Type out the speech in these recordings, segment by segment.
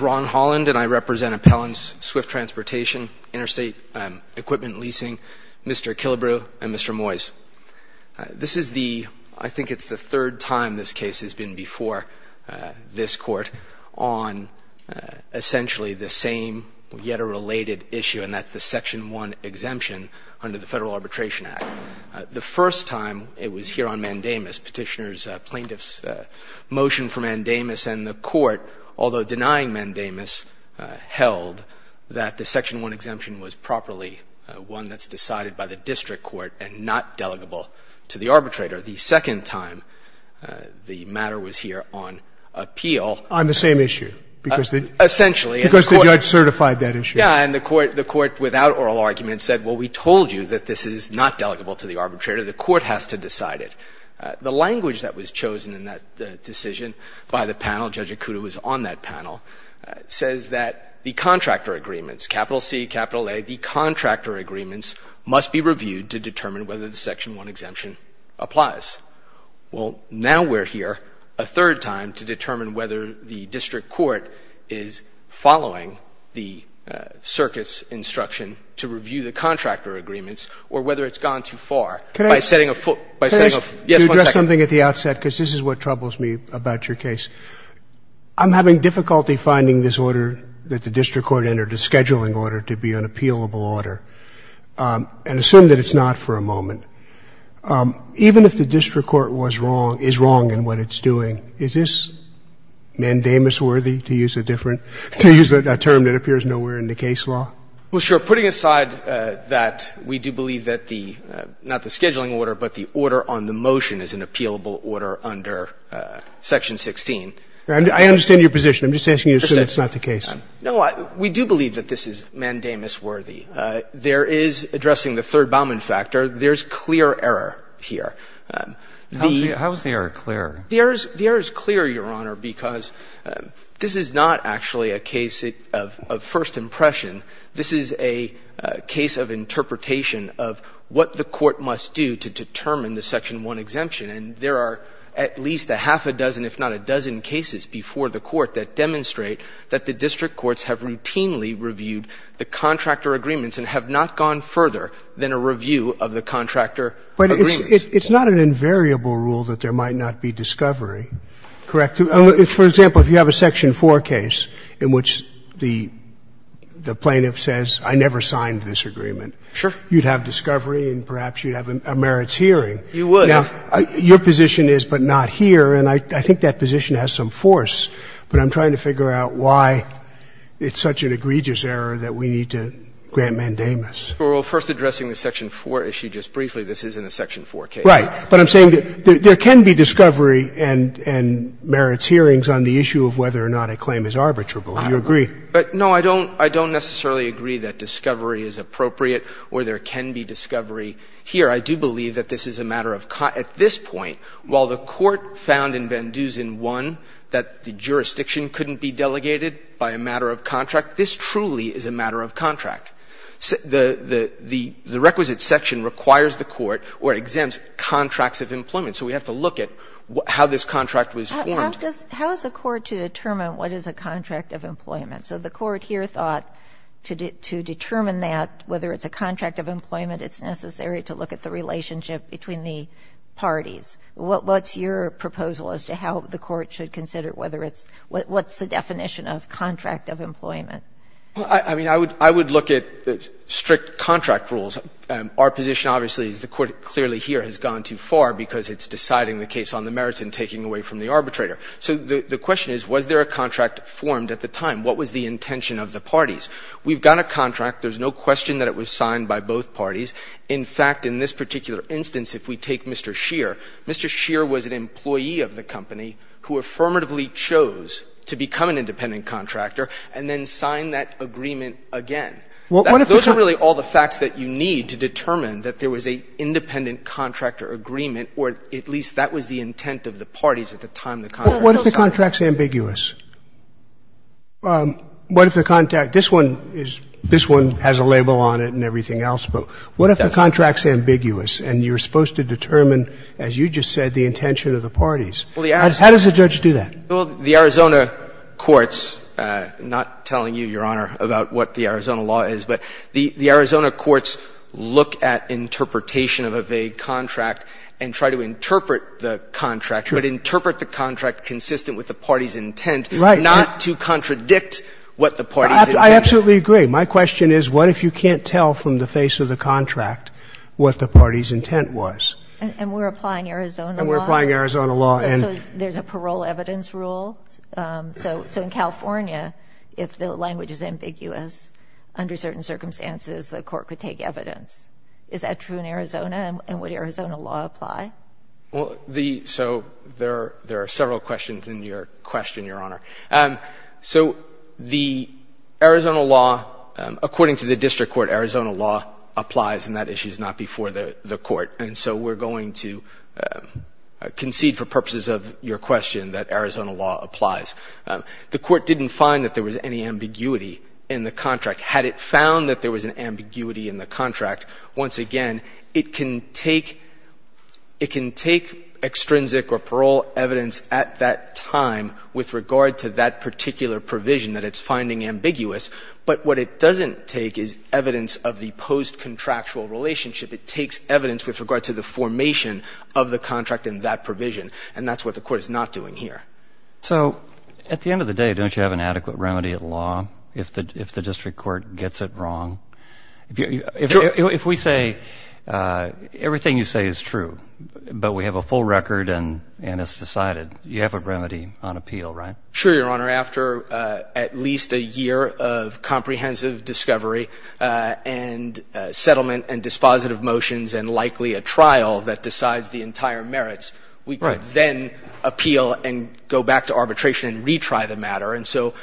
Ron Holland v. Swift Transportation, Interstate Equipment Leasing, Mr. Killebrew, Mr. Moyes This is the, I think it's the third time this case has been before this court on essentially the same, yet a related issue, and that's the Section 1 exemption under the Federal Arbitration Act. The first time, it was here on mandamus, Petitioner's plaintiff's motion for mandamus, and the court, although denying mandamus, held that the Section 1 exemption was properly one that's decided by the district court and not delegable to the arbitrator. The second time, the matter was here on appeal. On the same issue. Essentially. Because the judge certified that issue. Yeah, and the court without oral argument said, well, we told you that this is not delegable to the arbitrator, the court has to decide it. The language that was chosen in that decision by the panel, Judge Akuta was on that panel, says that the contractor agreements, capital C, capital A, the contractor agreements must be reviewed to determine whether the Section 1 exemption applies. Well, now we're here a third time to determine whether the district court is following the circuit's instruction to review the contractor agreements or whether it's gone too far by setting a foot, by setting a foot. Yes, one second. Can I just address something at the outset? Because this is what troubles me about your case. I'm having difficulty finding this order that the district court entered, a scheduling order, to be an appealable order. And assume that it's not for a moment. Even if the district court was wrong, is wrong in what it's doing, is this mandamus worthy, to use a different, to use a term that appears nowhere in the case law? Well, sure. Putting aside that we do believe that the, not the scheduling order, but the order on the motion is an appealable order under Section 16. I understand your position. I'm just asking you to assume it's not the case. No, we do believe that this is mandamus worthy. There is, addressing the third Bauman factor, there's clear error here. The error is clear, Your Honor, because this is not actually a case of first impression. This is a case of interpretation of what the court must do to determine the Section 1 exemption. And there are at least a half a dozen, if not a dozen, cases before the Court that have not gone further than a review of the contractor agreements. But it's not an invariable rule that there might not be discovery, correct? For example, if you have a Section 4 case in which the plaintiff says, I never signed this agreement. Sure. You'd have discovery and perhaps you'd have a merits hearing. You would. Now, your position is, but not here, and I think that position has some force, but I'm trying to figure out why it's such an egregious error that we need to grant mandamus. Well, first addressing the Section 4 issue just briefly, this isn't a Section 4 case. Right. But I'm saying that there can be discovery and merits hearings on the issue of whether or not a claim is arbitrable, and you agree. I don't know. But, no, I don't necessarily agree that discovery is appropriate or there can be discovery here. I do believe that this is a matter of cause. At this point, while the Court found in Van Dusen I that the jurisdiction couldn't be delegated by a matter of contract, this truly is a matter of contract. The requisite section requires the Court or exempts contracts of employment, so we have to look at how this contract was formed. How does the Court determine what is a contract of employment? So the Court here thought to determine that, whether it's a contract of employment, it's necessary to look at the relationship between the parties. What's your proposal as to how the Court should consider whether it's – what's the definition of contract of employment? I mean, I would look at strict contract rules. Our position, obviously, is the Court clearly here has gone too far because it's deciding the case on the merits and taking away from the arbitrator. So the question is, was there a contract formed at the time? What was the intention of the parties? We've got a contract. There's no question that it was signed by both parties. In fact, in this particular instance, if we take Mr. Scheer, Mr. Scheer was an employee of the company who affirmatively chose to become an independent contractor and then sign that agreement again. Those are really all the facts that you need to determine that there was an independent contractor agreement, or at least that was the intent of the parties at the time the contract was signed. What if the contract is ambiguous? What if the contract – this one is – this one has a label on it and everything else, but what if the contract's ambiguous and you're supposed to determine, as you just said, the intention of the parties? How does the judge do that? Well, the Arizona courts – not telling you, Your Honor, about what the Arizona law is, but the Arizona courts look at interpretation of a vague contract and try to interpret the contract, but interpret the contract consistent with the party's intent, not to contradict what the party's intent is. I absolutely agree. My question is, what if you can't tell from the face of the contract what the party's intent was? And we're applying Arizona law? And we're applying Arizona law. So there's a parole evidence rule? So in California, if the language is ambiguous, under certain circumstances, the court could take evidence. Is that true in Arizona? And would Arizona law apply? Well, the – so there are several questions in your question, Your Honor. So the Arizona law, according to the district court, Arizona law applies, and that issue is not before the court. And so we're going to concede for purposes of your question that Arizona law applies. The court didn't find that there was any ambiguity in the contract. Had it found that there was an ambiguity in the contract, once again, it can take – it can take extrinsic or parole evidence at that time with regard to that particular provision that it's finding ambiguous. But what it doesn't take is evidence of the post-contractual relationship. It takes evidence with regard to the formation of the contract in that provision. And that's what the court is not doing here. So at the end of the day, don't you have an adequate remedy at law if the district court gets it wrong? If we say everything you say is true, but we have a full record and it's decided, you have a remedy on appeal, right? Sure, Your Honor. After at least a year of comprehensive discovery and settlement and dispositive motions and likely a trial that decides the entire merits, we can then appeal and go back to arbitration and retry the matter. And so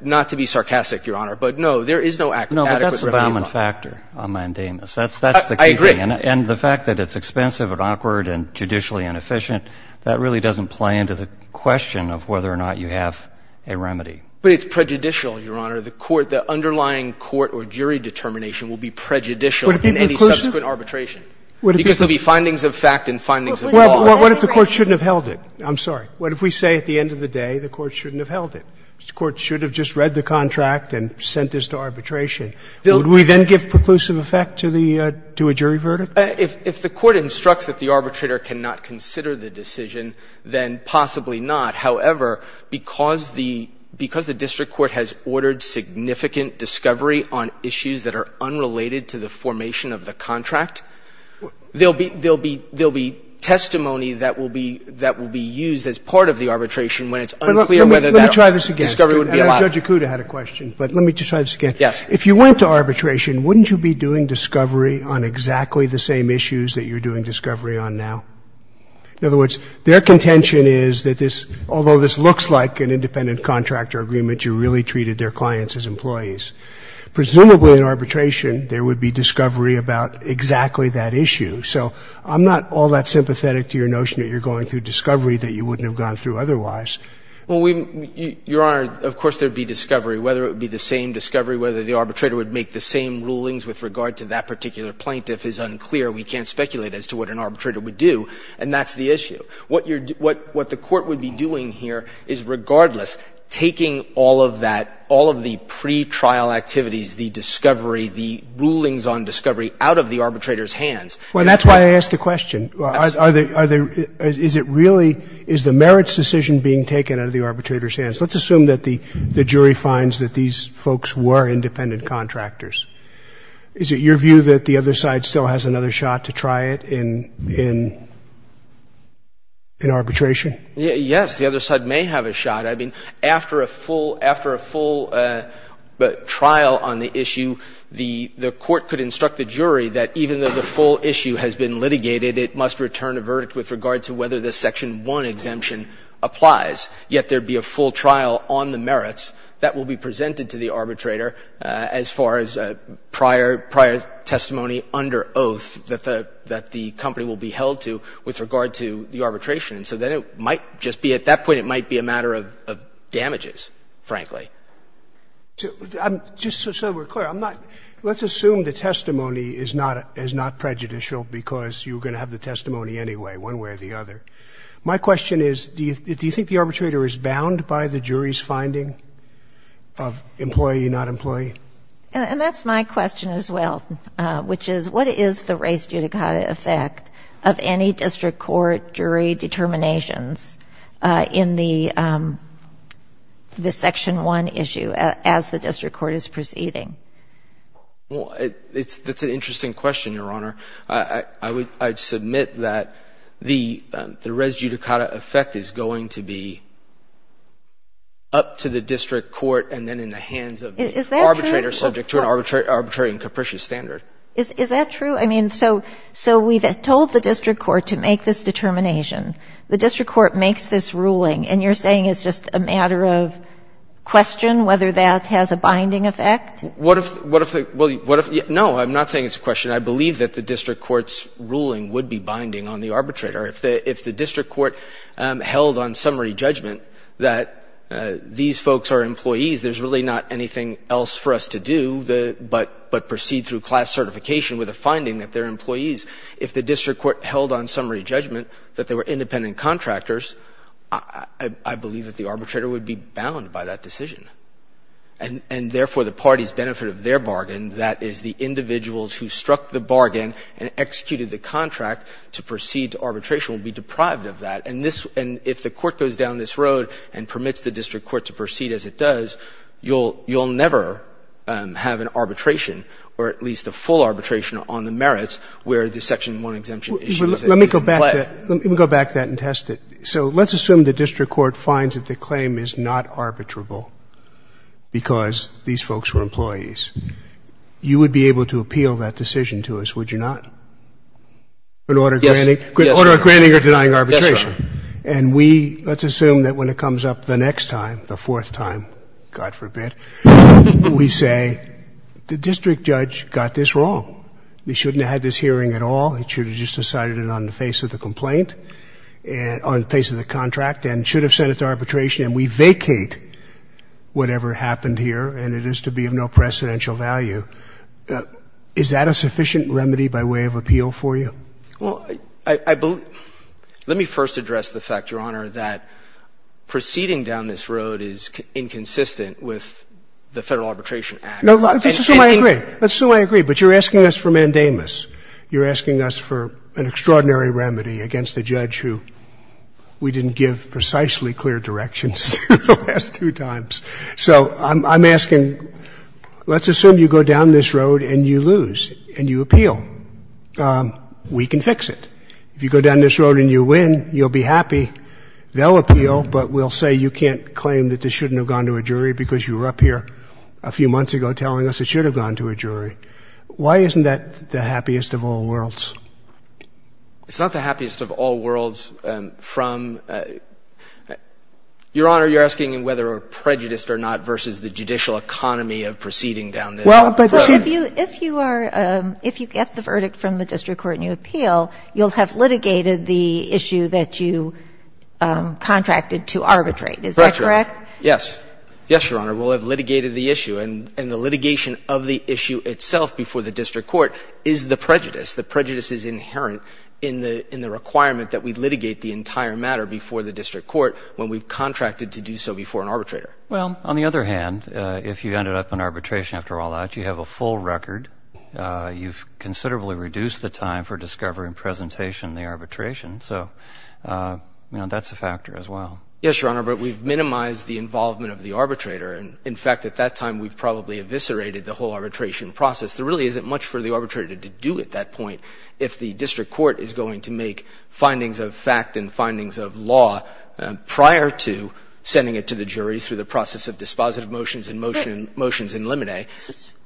not to be sarcastic, Your Honor, but no, there is no adequate remedy. No, but that's the balm and factor on mandamus. That's the key thing. I agree. And the fact that it's expensive and awkward and judicially inefficient, that really doesn't play into the question of whether or not you have a remedy. But it's prejudicial, Your Honor. The court – the underlying court or jury determination will be prejudicial in any subsequent arbitration. Would it be any closer? Because there will be findings of fact and findings of law. What if the court shouldn't have held it? I'm sorry. What if we say at the end of the day the court shouldn't have held it? The court should have just read the contract and sent this to arbitration. Would we then give preclusive effect to the – to a jury verdict? If the court instructs that the arbitrator cannot consider the decision, then possibly not. However, because the – because the district court has ordered significant discovery on issues that are unrelated to the formation of the contract, there will be – there will be testimony that will be used as part of the arbitration when it's unclear whether that discovery would be allowed. Let me try this again. Judge Acuda had a question, but let me just try this again. Yes. If you went to arbitration, wouldn't you be doing discovery on exactly the same issues that you're doing discovery on now? In other words, their contention is that this – although this looks like an independent contractor agreement, you really treated their clients as employees. Presumably in arbitration, there would be discovery about exactly that issue. So I'm not all that sympathetic to your notion that you're going through discovery that you wouldn't have gone through otherwise. Well, we – Your Honor, of course there would be discovery. Whether it would be the same discovery, whether the arbitrator would make the same rulings with regard to that particular plaintiff is unclear. We can't speculate as to what an arbitrator would do, and that's the issue. What you're – what the court would be doing here is, regardless, taking all of that – all of the pretrial activities, the discovery, the rulings on discovery out of the arbitrator's hands. Well, that's why I asked the question. Are they – is it really – is the merits decision being taken out of the arbitrator's hands? Let's assume that the jury finds that these folks were independent contractors. Is it your view that the other side still has another shot to try it in arbitration? Yes, the other side may have a shot. I mean, after a full – after a full trial on the issue, the court could instruct the jury that even though the full issue has been litigated, it must return a verdict with regard to whether the Section 1 exemption applies, yet there be a full trial on the merits that will be presented to the arbitrator as far as prior – prior testimony under oath that the company will be held to with regard to the arbitration. So then it might just be – at that point, it might be a matter of damages, frankly. I'm – just so we're clear, I'm not – let's assume the testimony is not prejudicial because you're going to have the testimony anyway, one way or the other. My question is, do you think the arbitrator is bound by the jury's finding of employee, not employee? And that's my question as well, which is, what is the res judicata effect of any district court jury determinations in the – the Section 1 issue as the district court is proceeding? Well, it's – that's an interesting question, Your Honor. I would – I'd submit that the res judicata effect is going to be up to the district court and then in the hands of the arbitrator, subject to an arbitrary and capricious standard. Is that true? I mean, so – so we've told the district court to make this determination. The district court makes this ruling, and you're saying it's just a matter of question whether that has a binding effect? What if – what if the – well, what if – no, I'm not saying it's a question. I believe that the district court's ruling would be binding on the arbitrator. If the district court held on summary judgment that these folks are employees, there's really not anything else for us to do but proceed through class certification with a finding that they're employees. If the district court held on summary judgment that they were independent contractors, I believe that the arbitrator would be bound by that decision. And therefore, the party's benefit of their bargain, that is the individuals who struck the bargain and executed the contract to proceed to arbitration, will be deprived of that. And this – and if the court goes down this road and permits the district court to proceed as it does, you'll – you'll never have an arbitration or at least a full arbitration on the merits where the Section 1 exemption issue is in play. Let me go back to that. Let me go back to that and test it. So let's assume the district court finds that the claim is not arbitrable because these folks were employees. You would be able to appeal that decision to us, would you not? Yes. An order of granting or denying arbitration. Yes, Your Honor. And we – let's assume that when it comes up the next time, the fourth time, God forbid, we say the district judge got this wrong. He shouldn't have had this hearing at all. He should have just decided it on the face of the complaint, on the face of the contract and should have sent it to arbitration. And we vacate whatever happened here, and it is to be of no precedential value. Is that a sufficient remedy by way of appeal for you? Well, I believe – let me first address the fact, Your Honor, that proceeding down this road is inconsistent with the Federal Arbitration Act. No. Let's assume I agree. Let's assume I agree. But you're asking us for mandamus. You're asking us for an extraordinary remedy against a judge who we didn't give precisely clear directions to the last two times. So I'm asking, let's assume you go down this road and you lose and you appeal. We can fix it. If you go down this road and you win, you'll be happy. They'll appeal, but we'll say you can't claim that this shouldn't have gone to a jury because you were up here a few months ago telling us it should have gone to a jury. Why isn't that the happiest of all worlds? It's not the happiest of all worlds from – Your Honor, you're asking whether we're prejudiced or not versus the judicial economy of proceeding down this road. Well, if you are – if you get the verdict from the district court and you appeal, you'll have litigated the issue that you contracted to arbitrate. Is that correct? Yes. Yes, Your Honor. We'll have litigated the issue. And the litigation of the issue itself before the district court is the prejudice. The prejudice is inherent in the requirement that we litigate the entire matter before the district court when we've contracted to do so before an arbitrator. Well, on the other hand, if you ended up in arbitration after all that, you have a full record. You've considerably reduced the time for discovery and presentation in the arbitration. So, you know, that's a factor as well. Yes, Your Honor, but we've minimized the involvement of the arbitrator. And, in fact, at that time we've probably eviscerated the whole arbitration process. There really isn't much for the arbitrator to do at that point if the district court is going to make findings of fact and findings of law prior to sending it to the jury through the process of dispositive motions and motions in limine.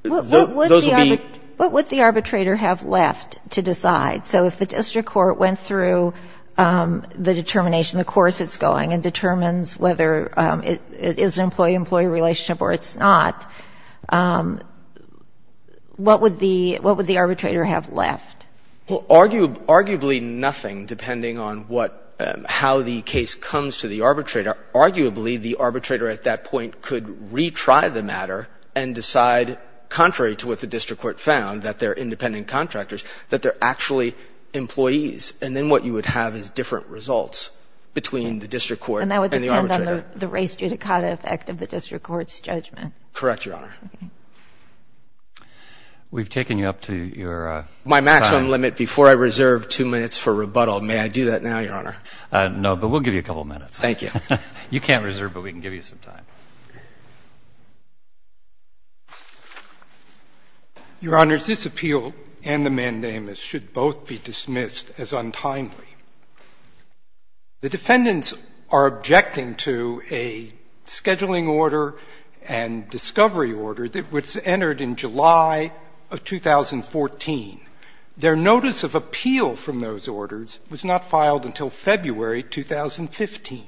What would the arbitrator have left to decide? So if the district court went through the determination, the course it's going, and determines whether it is an employee-employee relationship or it's not, what would the arbitrator have left? Well, arguably nothing, depending on what — how the case comes to the arbitrator. Arguably, the arbitrator at that point could retry the matter and decide, contrary to what the district court found, that they're independent contractors, that they're actually employees. And then what you would have is different results between the district court and the arbitrator. And that would depend on the race judicata effect of the district court's judgment. Correct, Your Honor. Okay. We've taken you up to your time. My maximum limit before I reserve two minutes for rebuttal. May I do that now, Your Honor? No, but we'll give you a couple minutes. Thank you. You can't reserve, but we can give you some time. Your Honors, this appeal and the mandamus should both be dismissed as untimely. The defendants are objecting to a scheduling order and discovery order that was entered in July of 2014. Their notice of appeal from those orders was not filed until February 2015.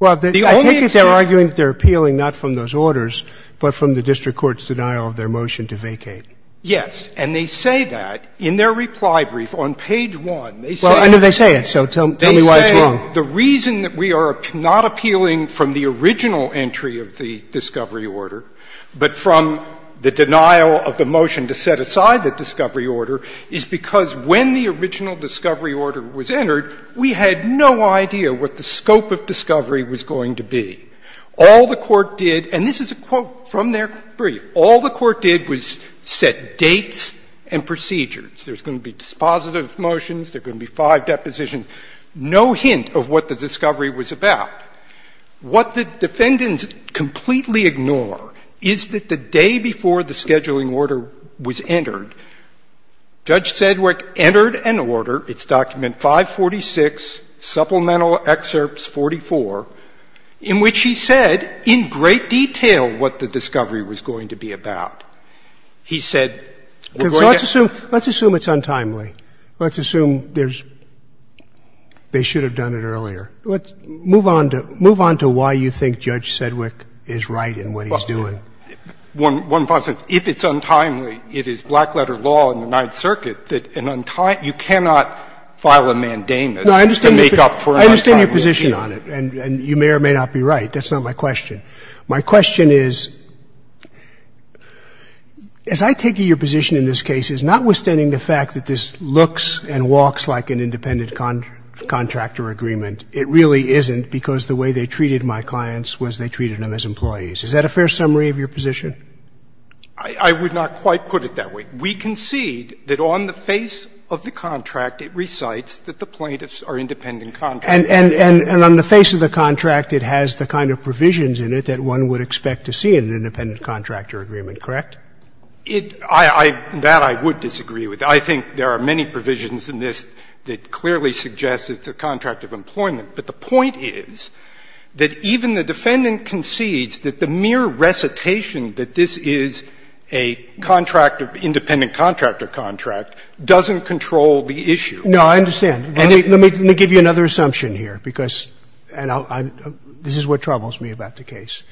Well, I take it they're arguing that they're appealing not from those orders, but from the district court's denial of their motion to vacate. Yes. And they say that in their reply brief on page 1. Well, I know they say it, so tell me why it's wrong. They say the reason that we are not appealing from the original entry of the discovery order, but from the denial of the motion to set aside the discovery order, is because when the original discovery order was entered, we had no idea what the scope of discovery was going to be. All the Court did, and this is a quote from their brief, all the Court did was set dates and procedures. There's going to be dispositive motions. There's going to be five depositions. No hint of what the discovery was about. What the defendants completely ignore is that the day before the scheduling order was entered, Judge Sedgwick entered an order. It's document 546, supplemental excerpts 44, in which he said in great detail what the discovery was going to be about. He said, we're going to get to it. So let's assume it's untimely. Let's assume there's — they should have done it earlier. Let's move on to — move on to why you think Judge Sedgwick is right in what he's doing. One possible — if it's untimely, it is black-letter law in the Ninth Circuit that an untimely — you cannot file a mandamus to make up for an untimely issue. No, I understand your position on it, and you may or may not be right. That's not my question. My question is, as I take your position in this case, it's notwithstanding the fact that this looks and walks like an independent contractor agreement. It really isn't because the way they treated my clients was they treated them as employees. Is that a fair summary of your position? I would not quite put it that way. We concede that on the face of the contract, it recites that the plaintiffs are independent contractors. And on the face of the contract, it has the kind of provisions in it that one would expect to see in an independent contractor agreement, correct? It — that I would disagree with. I think there are many provisions in this that clearly suggest it's a contract of employment. But the point is that even the defendant concedes that the mere recitation that this is a contract of — independent contractor contract doesn't control the issue. No, I understand. And let me give you another assumption here, because — and I'll — this is what troubles me about the case.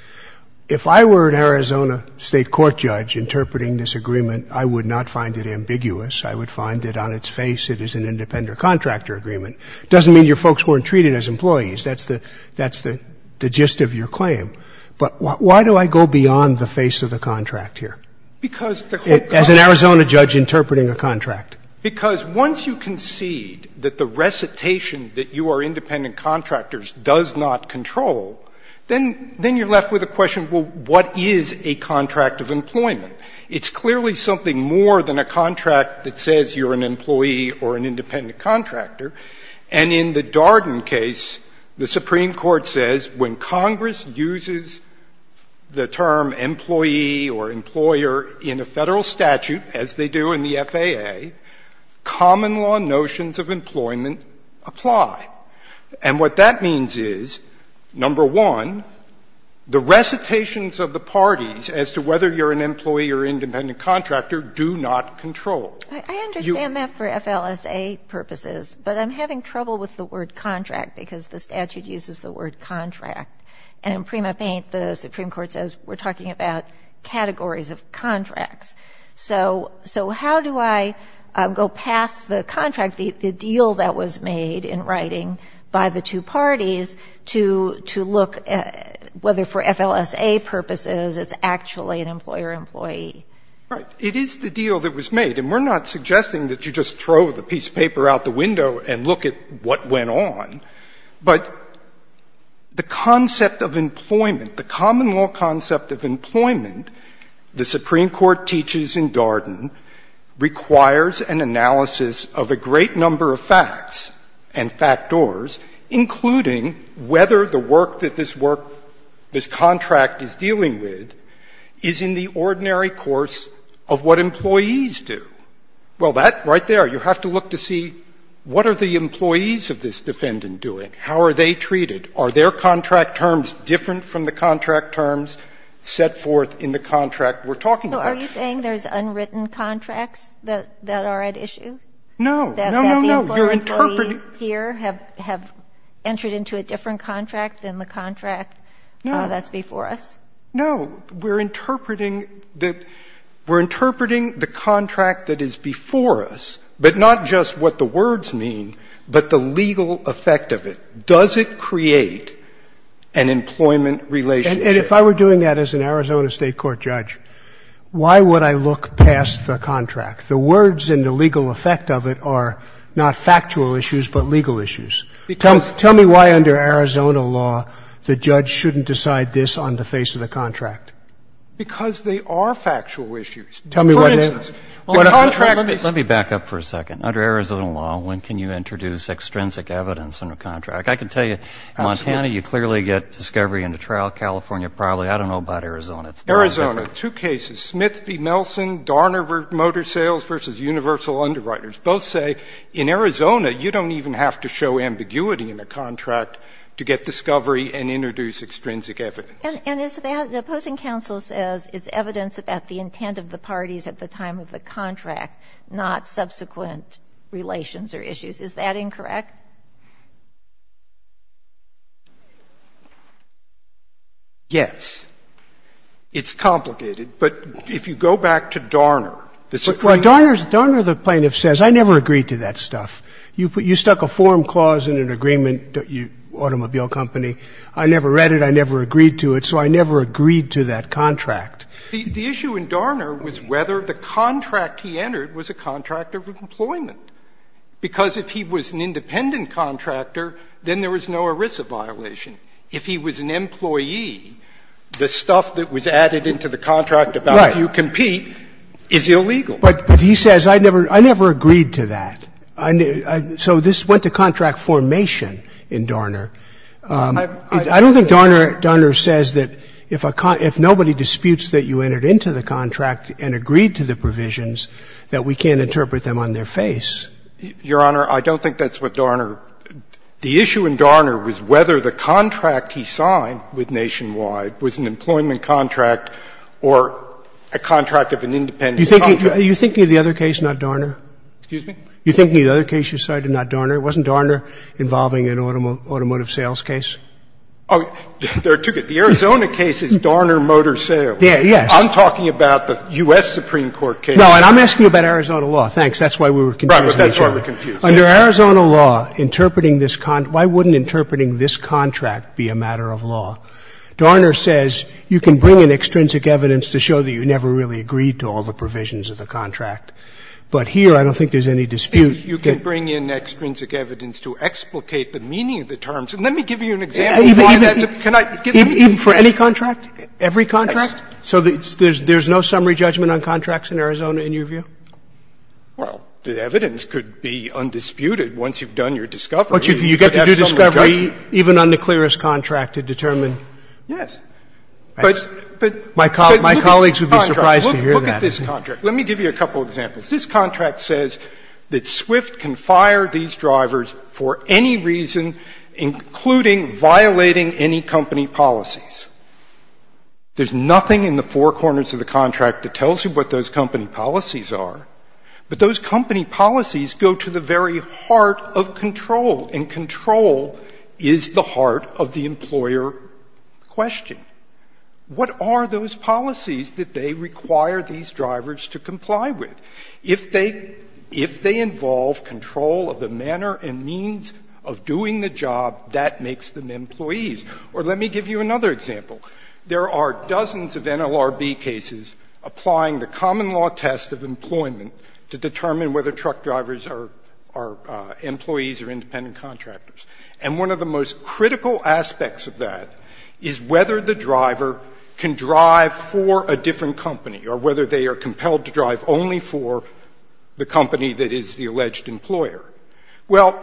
If I were an Arizona State court judge interpreting this agreement, I would not find it ambiguous. I would find that on its face, it is an independent contractor agreement. It doesn't mean your folks weren't treated as employees. That's the — that's the gist of your claim. But why do I go beyond the face of the contract here? Because the court— As an Arizona judge interpreting a contract. Because once you concede that the recitation that you are independent contractors does not control, then — then you're left with a question, well, what is a contract of employment? It's clearly something more than a contract that says you're an employee or an independent contractor. And in the Darden case, the Supreme Court says when Congress uses the term employee or employer in a Federal statute, as they do in the FAA, common law notions of employment apply. And what that means is, number one, the recitations of the parties as to whether you're an employee or independent contractor do not control. You— I understand that for FLSA purposes, but I'm having trouble with the word contract because the statute uses the word contract. And in Prima Paint, the Supreme Court says we're talking about categories of contracts. So how do I go past the contract, the deal that was made in writing by the two parties to look at whether for FLSA purposes it's actually an employer-employee? Right. It is the deal that was made. And we're not suggesting that you just throw the piece of paper out the window and look at what went on. But the concept of employment, the common law concept of employment, the Supreme Court teaches in Darden, requires an analysis of a great number of facts and factors, including whether the work that this work, this contract is dealing with, is in the ordinary course of what employees do. Well, that right there, you have to look to see what are the employees of this defendant doing, how are they treated, are their contract terms different from the contract terms set forth in the contract we're talking about? So are you saying there's unwritten contracts that are at issue? No. No, no, no. That the employer-employee here have entered into a different contract than the contract that's before us? No. No. We're interpreting the contract that is before us, but not just what the words mean, but the legal effect of it. Does it create an employment relationship? And if I were doing that as an Arizona State court judge, why would I look past the contract? The words and the legal effect of it are not factual issues, but legal issues. Tell me why under Arizona law the judge shouldn't decide this on the face of the contract. Because they are factual issues. Tell me what it is. For instance, the contract is. Let me back up for a second. Under Arizona law, when can you introduce extrinsic evidence in a contract? I can tell you, Montana, you clearly get discovery in the trial. California, probably. I don't know about Arizona. It's not different. Arizona, two cases, Smith v. Nelson, Darner v. Motor Sales v. Universal Underwriters. Both say in Arizona you don't even have to show ambiguity in a contract to get discovery and introduce extrinsic evidence. And is that the opposing counsel says it's evidence about the intent of the parties at the time of the contract, not subsequent relations or issues. Is that incorrect? Yes. It's complicated. But if you go back to Darner, the Supreme Court. Scalia. Darner, the plaintiff says, I never agreed to that stuff. You stuck a forum clause in an agreement, automobile company. I never read it. I never agreed to it. So I never agreed to that contract. The issue in Darner was whether the contract he entered was a contract of employment. Because if he was an independent contractor, then there was no ERISA violation. If he was an employee, the stuff that was added into the contract about if you compete is illegal. Right. But he says, I never agreed to that. So this went to contract formation in Darner. I don't think Darner says that if nobody disputes that you entered into the contract and agreed to the provisions, that we can't interpret them on their face. Your Honor, I don't think that's what Darner ---- the issue in Darner was whether the contract he signed with Nationwide was an employment contract or a contract of an independent contractor. You're thinking of the other case, not Darner? Excuse me? You're thinking of the other case you cited, not Darner? Wasn't Darner involving an automotive sales case? Oh, there are two cases. The Arizona case is Darner Motor Sales. Yes. I'm talking about the U.S. Supreme Court case. No, and I'm asking you about Arizona law. Thanks. That's why we were confusing each other. Right, but that's why we're confused. Under Arizona law, interpreting this con ---- why wouldn't interpreting this contract be a matter of law? Darner says you can bring in extrinsic evidence to show that you never really agreed to all the provisions of the contract. But here I don't think there's any dispute. You can bring in extrinsic evidence to explicate the meaning of the terms. And let me give you an example of why that's a ---- Even for any contract? Every contract? So there's no summary judgment on contracts in Arizona, in your view? Well, the evidence could be undisputed once you've done your discovery. But you get to do discovery even on the clearest contract to determine. Yes. But look at this contract. My colleagues would be surprised to hear that. Look at this contract. Let me give you a couple of examples. This contract says that Swift can fire these drivers for any reason, including violating any company policies. There's nothing in the four corners of the contract that tells you what those company policies are. But those company policies go to the very heart of control, and control is the heart of the employer question. What are those policies that they require these drivers to comply with? If they involve control of the manner and means of doing the job, that makes them employees. Or let me give you another example. There are dozens of NLRB cases applying the common law test of employment to determine whether truck drivers are employees or independent contractors. And one of the most critical aspects of that is whether the driver can drive for a different company or whether they are compelled to drive only for the company that is the alleged employer. Well,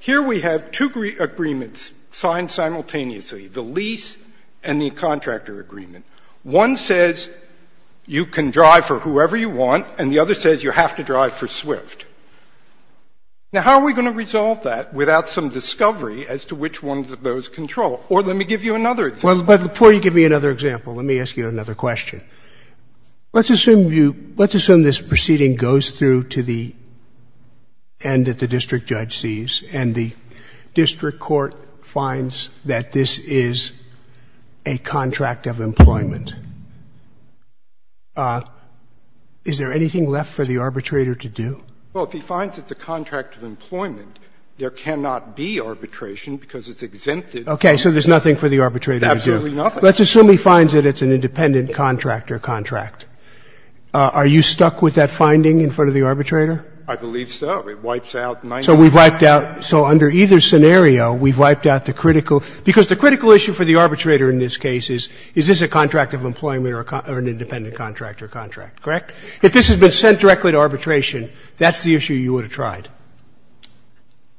here we have two agreements signed simultaneously, the lease and the contractor agreement. One says you can drive for whoever you want, and the other says you have to drive for Swift. Now, how are we going to resolve that without some discovery as to which one of those control? Or let me give you another example. Well, but before you give me another example, let me ask you another question. Let's assume you — let's assume this proceeding goes through to the end that the district judge sees, and the district court finds that this is a contract of employment. Is there anything left for the arbitrator to do? Well, if he finds it's a contract of employment, there cannot be arbitration because it's exempted. Okay. So there's nothing for the arbitrator to do. Absolutely nothing. Let's assume he finds that it's an independent contractor contract. Are you stuck with that finding in front of the arbitrator? I believe so. It wipes out 90 percent. So we've wiped out — so under either scenario, we've wiped out the critical — because the critical issue for the arbitrator in this case is, is this a contract of employment or an independent contractor contract, correct? If this had been sent directly to arbitration, that's the issue you would have tried.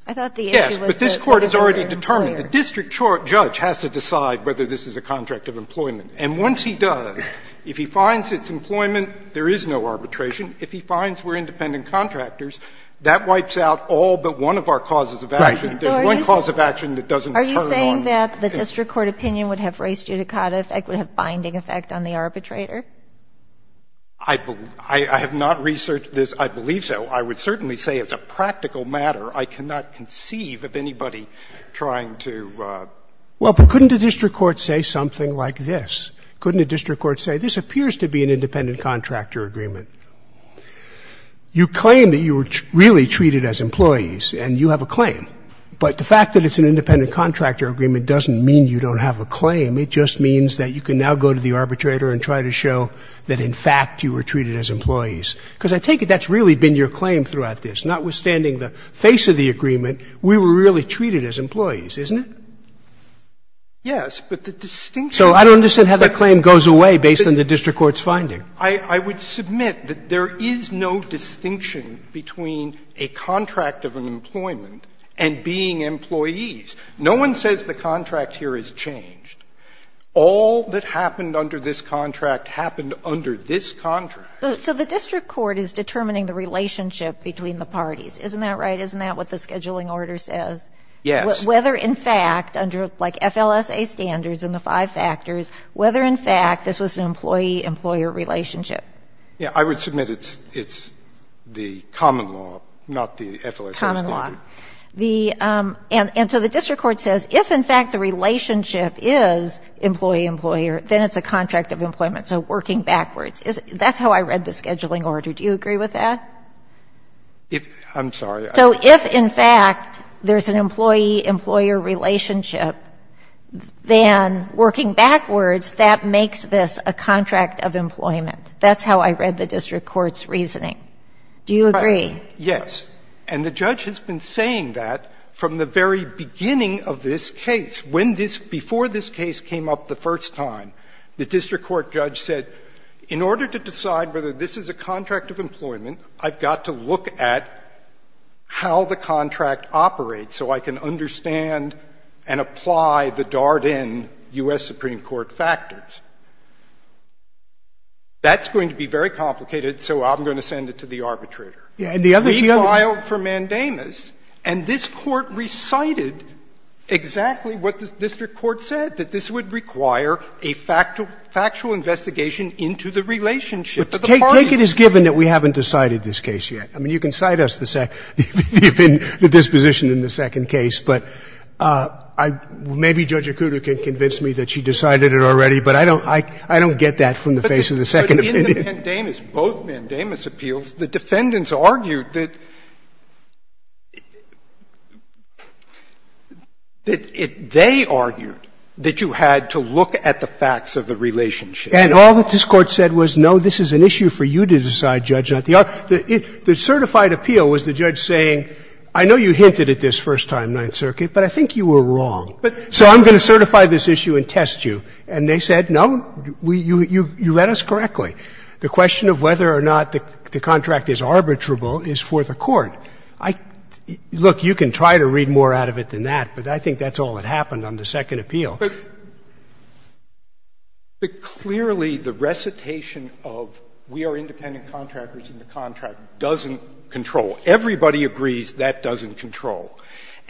I thought the issue was that the district court was an employer. Yes, but this Court has already determined the district judge has to decide whether this is a contract of employment. And once he does, if he finds it's employment, there is no arbitration. If he finds we're independent contractors, that wipes out all but one of our causes of action. There's one cause of action that doesn't turn on. Are you saying that the district court opinion would have race judicata effect, would have binding effect on the arbitrator? I have not researched this. I believe so. I would certainly say it's a practical matter. I cannot conceive of anybody trying to. Well, but couldn't a district court say something like this? Couldn't a district court say this appears to be an independent contractor agreement? You claim that you were really treated as employees, and you have a claim. But the fact that it's an independent contractor agreement doesn't mean you don't have a claim. It just means that you can now go to the arbitrator and try to show that, in fact, you were treated as employees. Because I take it that's really been your claim throughout this. Notwithstanding the face of the agreement, we were really treated as employees, isn't it? Yes. But the distinction is that there is no distinction. So I don't understand how that claim goes away based on the district court's finding. I would submit that there is no distinction between a contract of an employment and being employees. No one says the contract here has changed. All that happened under this contract happened under this contract. So the district court is determining the relationship between the parties, isn't that right? Isn't that what the scheduling order says? Yes. Whether, in fact, under, like, FLSA standards and the five factors, whether, in fact, this was an employee-employer relationship. Yes. I would submit it's the common law, not the FLSA standard. Common law. The – and so the district court says if, in fact, the relationship is employee- employer, then it's a contract of employment. So working backwards. That's how I read the scheduling order. Do you agree with that? I'm sorry. So if, in fact, there's an employee-employer relationship, then working backwards, that makes this a contract of employment. That's how I read the district court's reasoning. Do you agree? Yes. And the judge has been saying that from the very beginning of this case. When this – before this case came up the first time, the district court judge said, in order to decide whether this is a contract of employment, I've got to look at how the contract operates so I can understand and apply the Darden U.S. Supreme Court factors. That's going to be very complicated, so I'm going to send it to the arbitrator. And the other – the other – We filed for mandamus, and this court recited exactly what the district court said, that this would require a factual investigation into the relationship of the parties. But take it as given that we haven't decided this case yet. I mean, you can cite us the second – the disposition in the second case, but I – maybe Judge Acuda can convince me that she decided it already, but I don't – I don't get that from the face of the second opinion. But in the mandamus – both mandamus appeals, the defendants argued that – that they argued that you had to look at the facts of the relationship. And all that this Court said was, no, this is an issue for you to decide, Judge. The – the certified appeal was the judge saying, I know you hinted at this first time, Ninth Circuit, but I think you were wrong. So I'm going to certify this issue and test you. And they said, no, we – you read us correctly. The question of whether or not the contract is arbitrable is for the Court. I – look, you can try to read more out of it than that, but I think that's all that happened on the second appeal. But – but clearly the recitation of we are independent contractors in the contract doesn't control. Everybody agrees that doesn't control.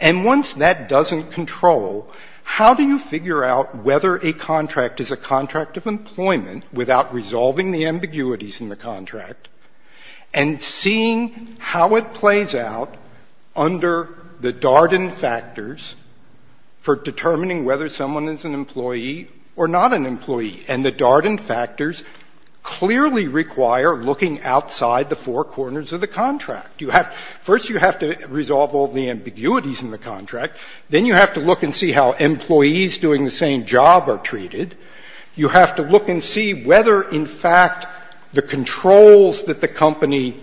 And once that doesn't control, how do you figure out whether a contract is a contract of employment without resolving the ambiguities in the contract, and seeing how it or not an employee? And the Darden factors clearly require looking outside the four corners of the contract. You have – first you have to resolve all the ambiguities in the contract. Then you have to look and see how employees doing the same job are treated. You have to look and see whether, in fact, the controls that the company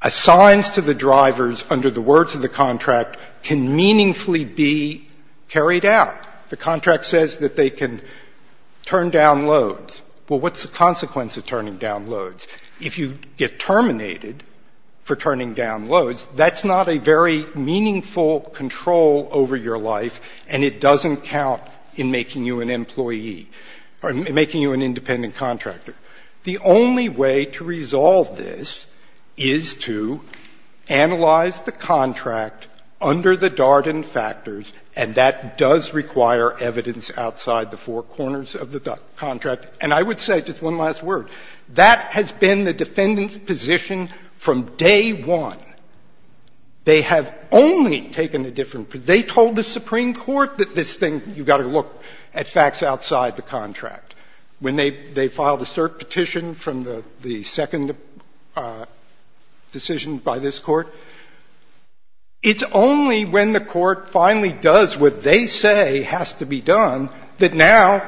assigns to the drivers under the words of the contract can meaningfully be carried out. The contract says that they can turn down loads. Well, what's the consequence of turning down loads? If you get terminated for turning down loads, that's not a very meaningful control over your life, and it doesn't count in making you an employee – or making you an independent contractor. The only way to resolve this is to analyze the contract under the Darden factors, and that does require evidence outside the four corners of the contract. And I would say just one last word. That has been the defendant's position from day one. They have only taken a different – they told the Supreme Court that this thing – you've got to look at facts outside the contract. When they filed a cert petition from the second decision by this Court, it's only when the Court finally does what they say has to be done that now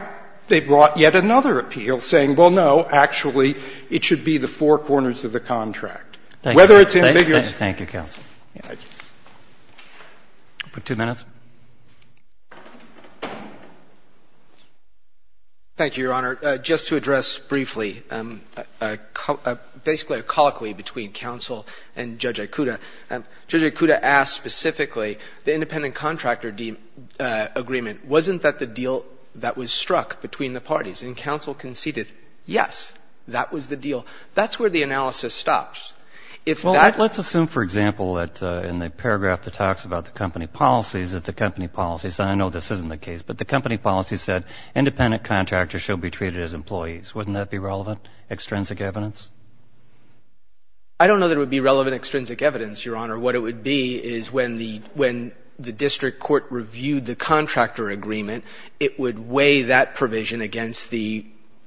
they've brought yet another appeal saying, well, no, actually, it should be the four corners of the contract. Whether it's ambiguous. Roberts. Thank you, counsel. For two minutes. Thank you, Your Honor. Just to address briefly basically a colloquy between counsel and Judge Aikuda. Judge Aikuda asked specifically the independent contractor agreement. Wasn't that the deal that was struck between the parties? And counsel conceded, yes, that was the deal. That's where the analysis stops. Well, let's assume, for example, that in the paragraph that talks about the company policies, that the company policies – and I know this isn't the case – but the company policy said independent contractors shall be treated as employees. Wouldn't that be relevant, extrinsic evidence? I don't know that it would be relevant extrinsic evidence, Your Honor. What it would be is when the district court reviewed the contractor agreement, it would weigh that provision against the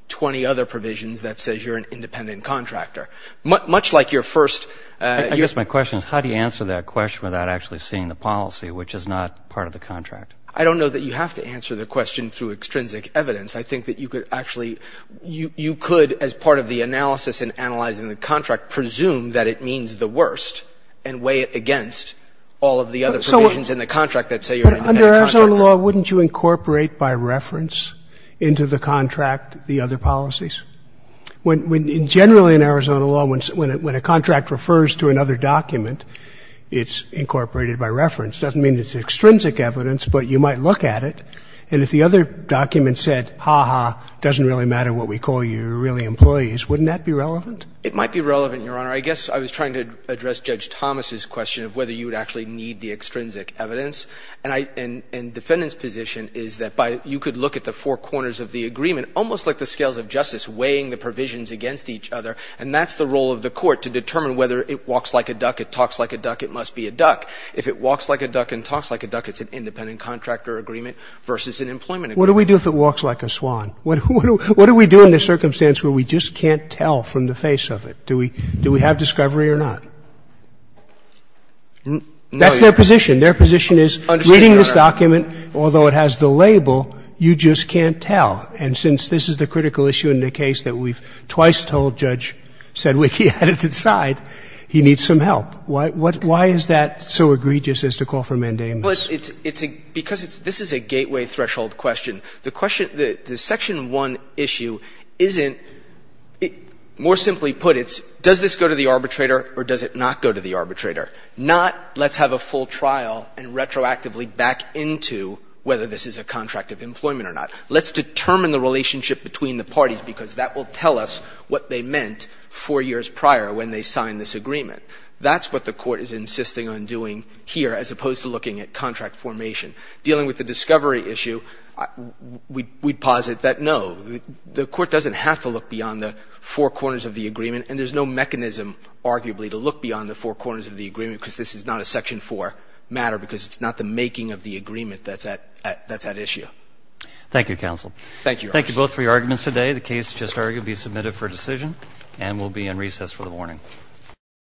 20 other provisions that says you're an independent contractor. Much like your first – I guess my question is how do you answer that question without actually seeing the policy, which is not part of the contract? I don't know that you have to answer the question through extrinsic evidence. I think that you could actually – you could, as part of the analysis and analyzing the contract, presume that it means the worst and weigh it against all of the other provisions in the contract that say you're an independent contractor. But under Arizona law, wouldn't you incorporate by reference into the contract the other policies? When – generally in Arizona law, when a contract refers to another document, it's incorporated by reference. It doesn't mean it's extrinsic evidence, but you might look at it. And if the other document said, ha-ha, doesn't really matter what we call you, you're really employees, wouldn't that be relevant? It might be relevant, Your Honor. I guess I was trying to address Judge Thomas's question of whether you would actually need the extrinsic evidence. And I – and defendant's position is that by – you could look at the four corners of the agreement, almost like the scales of justice, weighing the provisions against each other, and that's the role of the court to determine whether it walks like a duck, it talks like a duck, it must be a duck. If it walks like a duck and talks like a duck, it's an independent contractor agreement versus an employment agreement. What do we do if it walks like a swan? What do we do in this circumstance where we just can't tell from the face of it? Do we have discovery or not? No, Your Honor. That's their position. Their position is, reading this document, although it has the label, you just can't tell. And since this is the critical issue in the case that we've twice told Judge Sedwicky at its side, he needs some help. Why is that so egregious as to call for mandamus? Well, it's a – because it's – this is a gateway threshold question. The question – the Section 1 issue isn't – more simply put, it's does this go to the arbitrator or does it not go to the arbitrator? Not let's have a full trial and retroactively back into whether this is a contract of employment or not. Let's determine the relationship between the parties because that will tell us what they meant four years prior when they signed this agreement. That's what the court is insisting on doing here as opposed to looking at contract formation. Dealing with the discovery issue, we'd posit that no, the court doesn't have to look beyond the four corners of the agreement and there's no mechanism, arguably, to look beyond the four corners of the agreement because this is not a Section 4 matter because it's not the making of the agreement that's at issue. Thank you, counsel. Thank you, Your Honor. Thank you both for your arguments today. The case is just argued to be submitted for decision and will be in recess for the morning.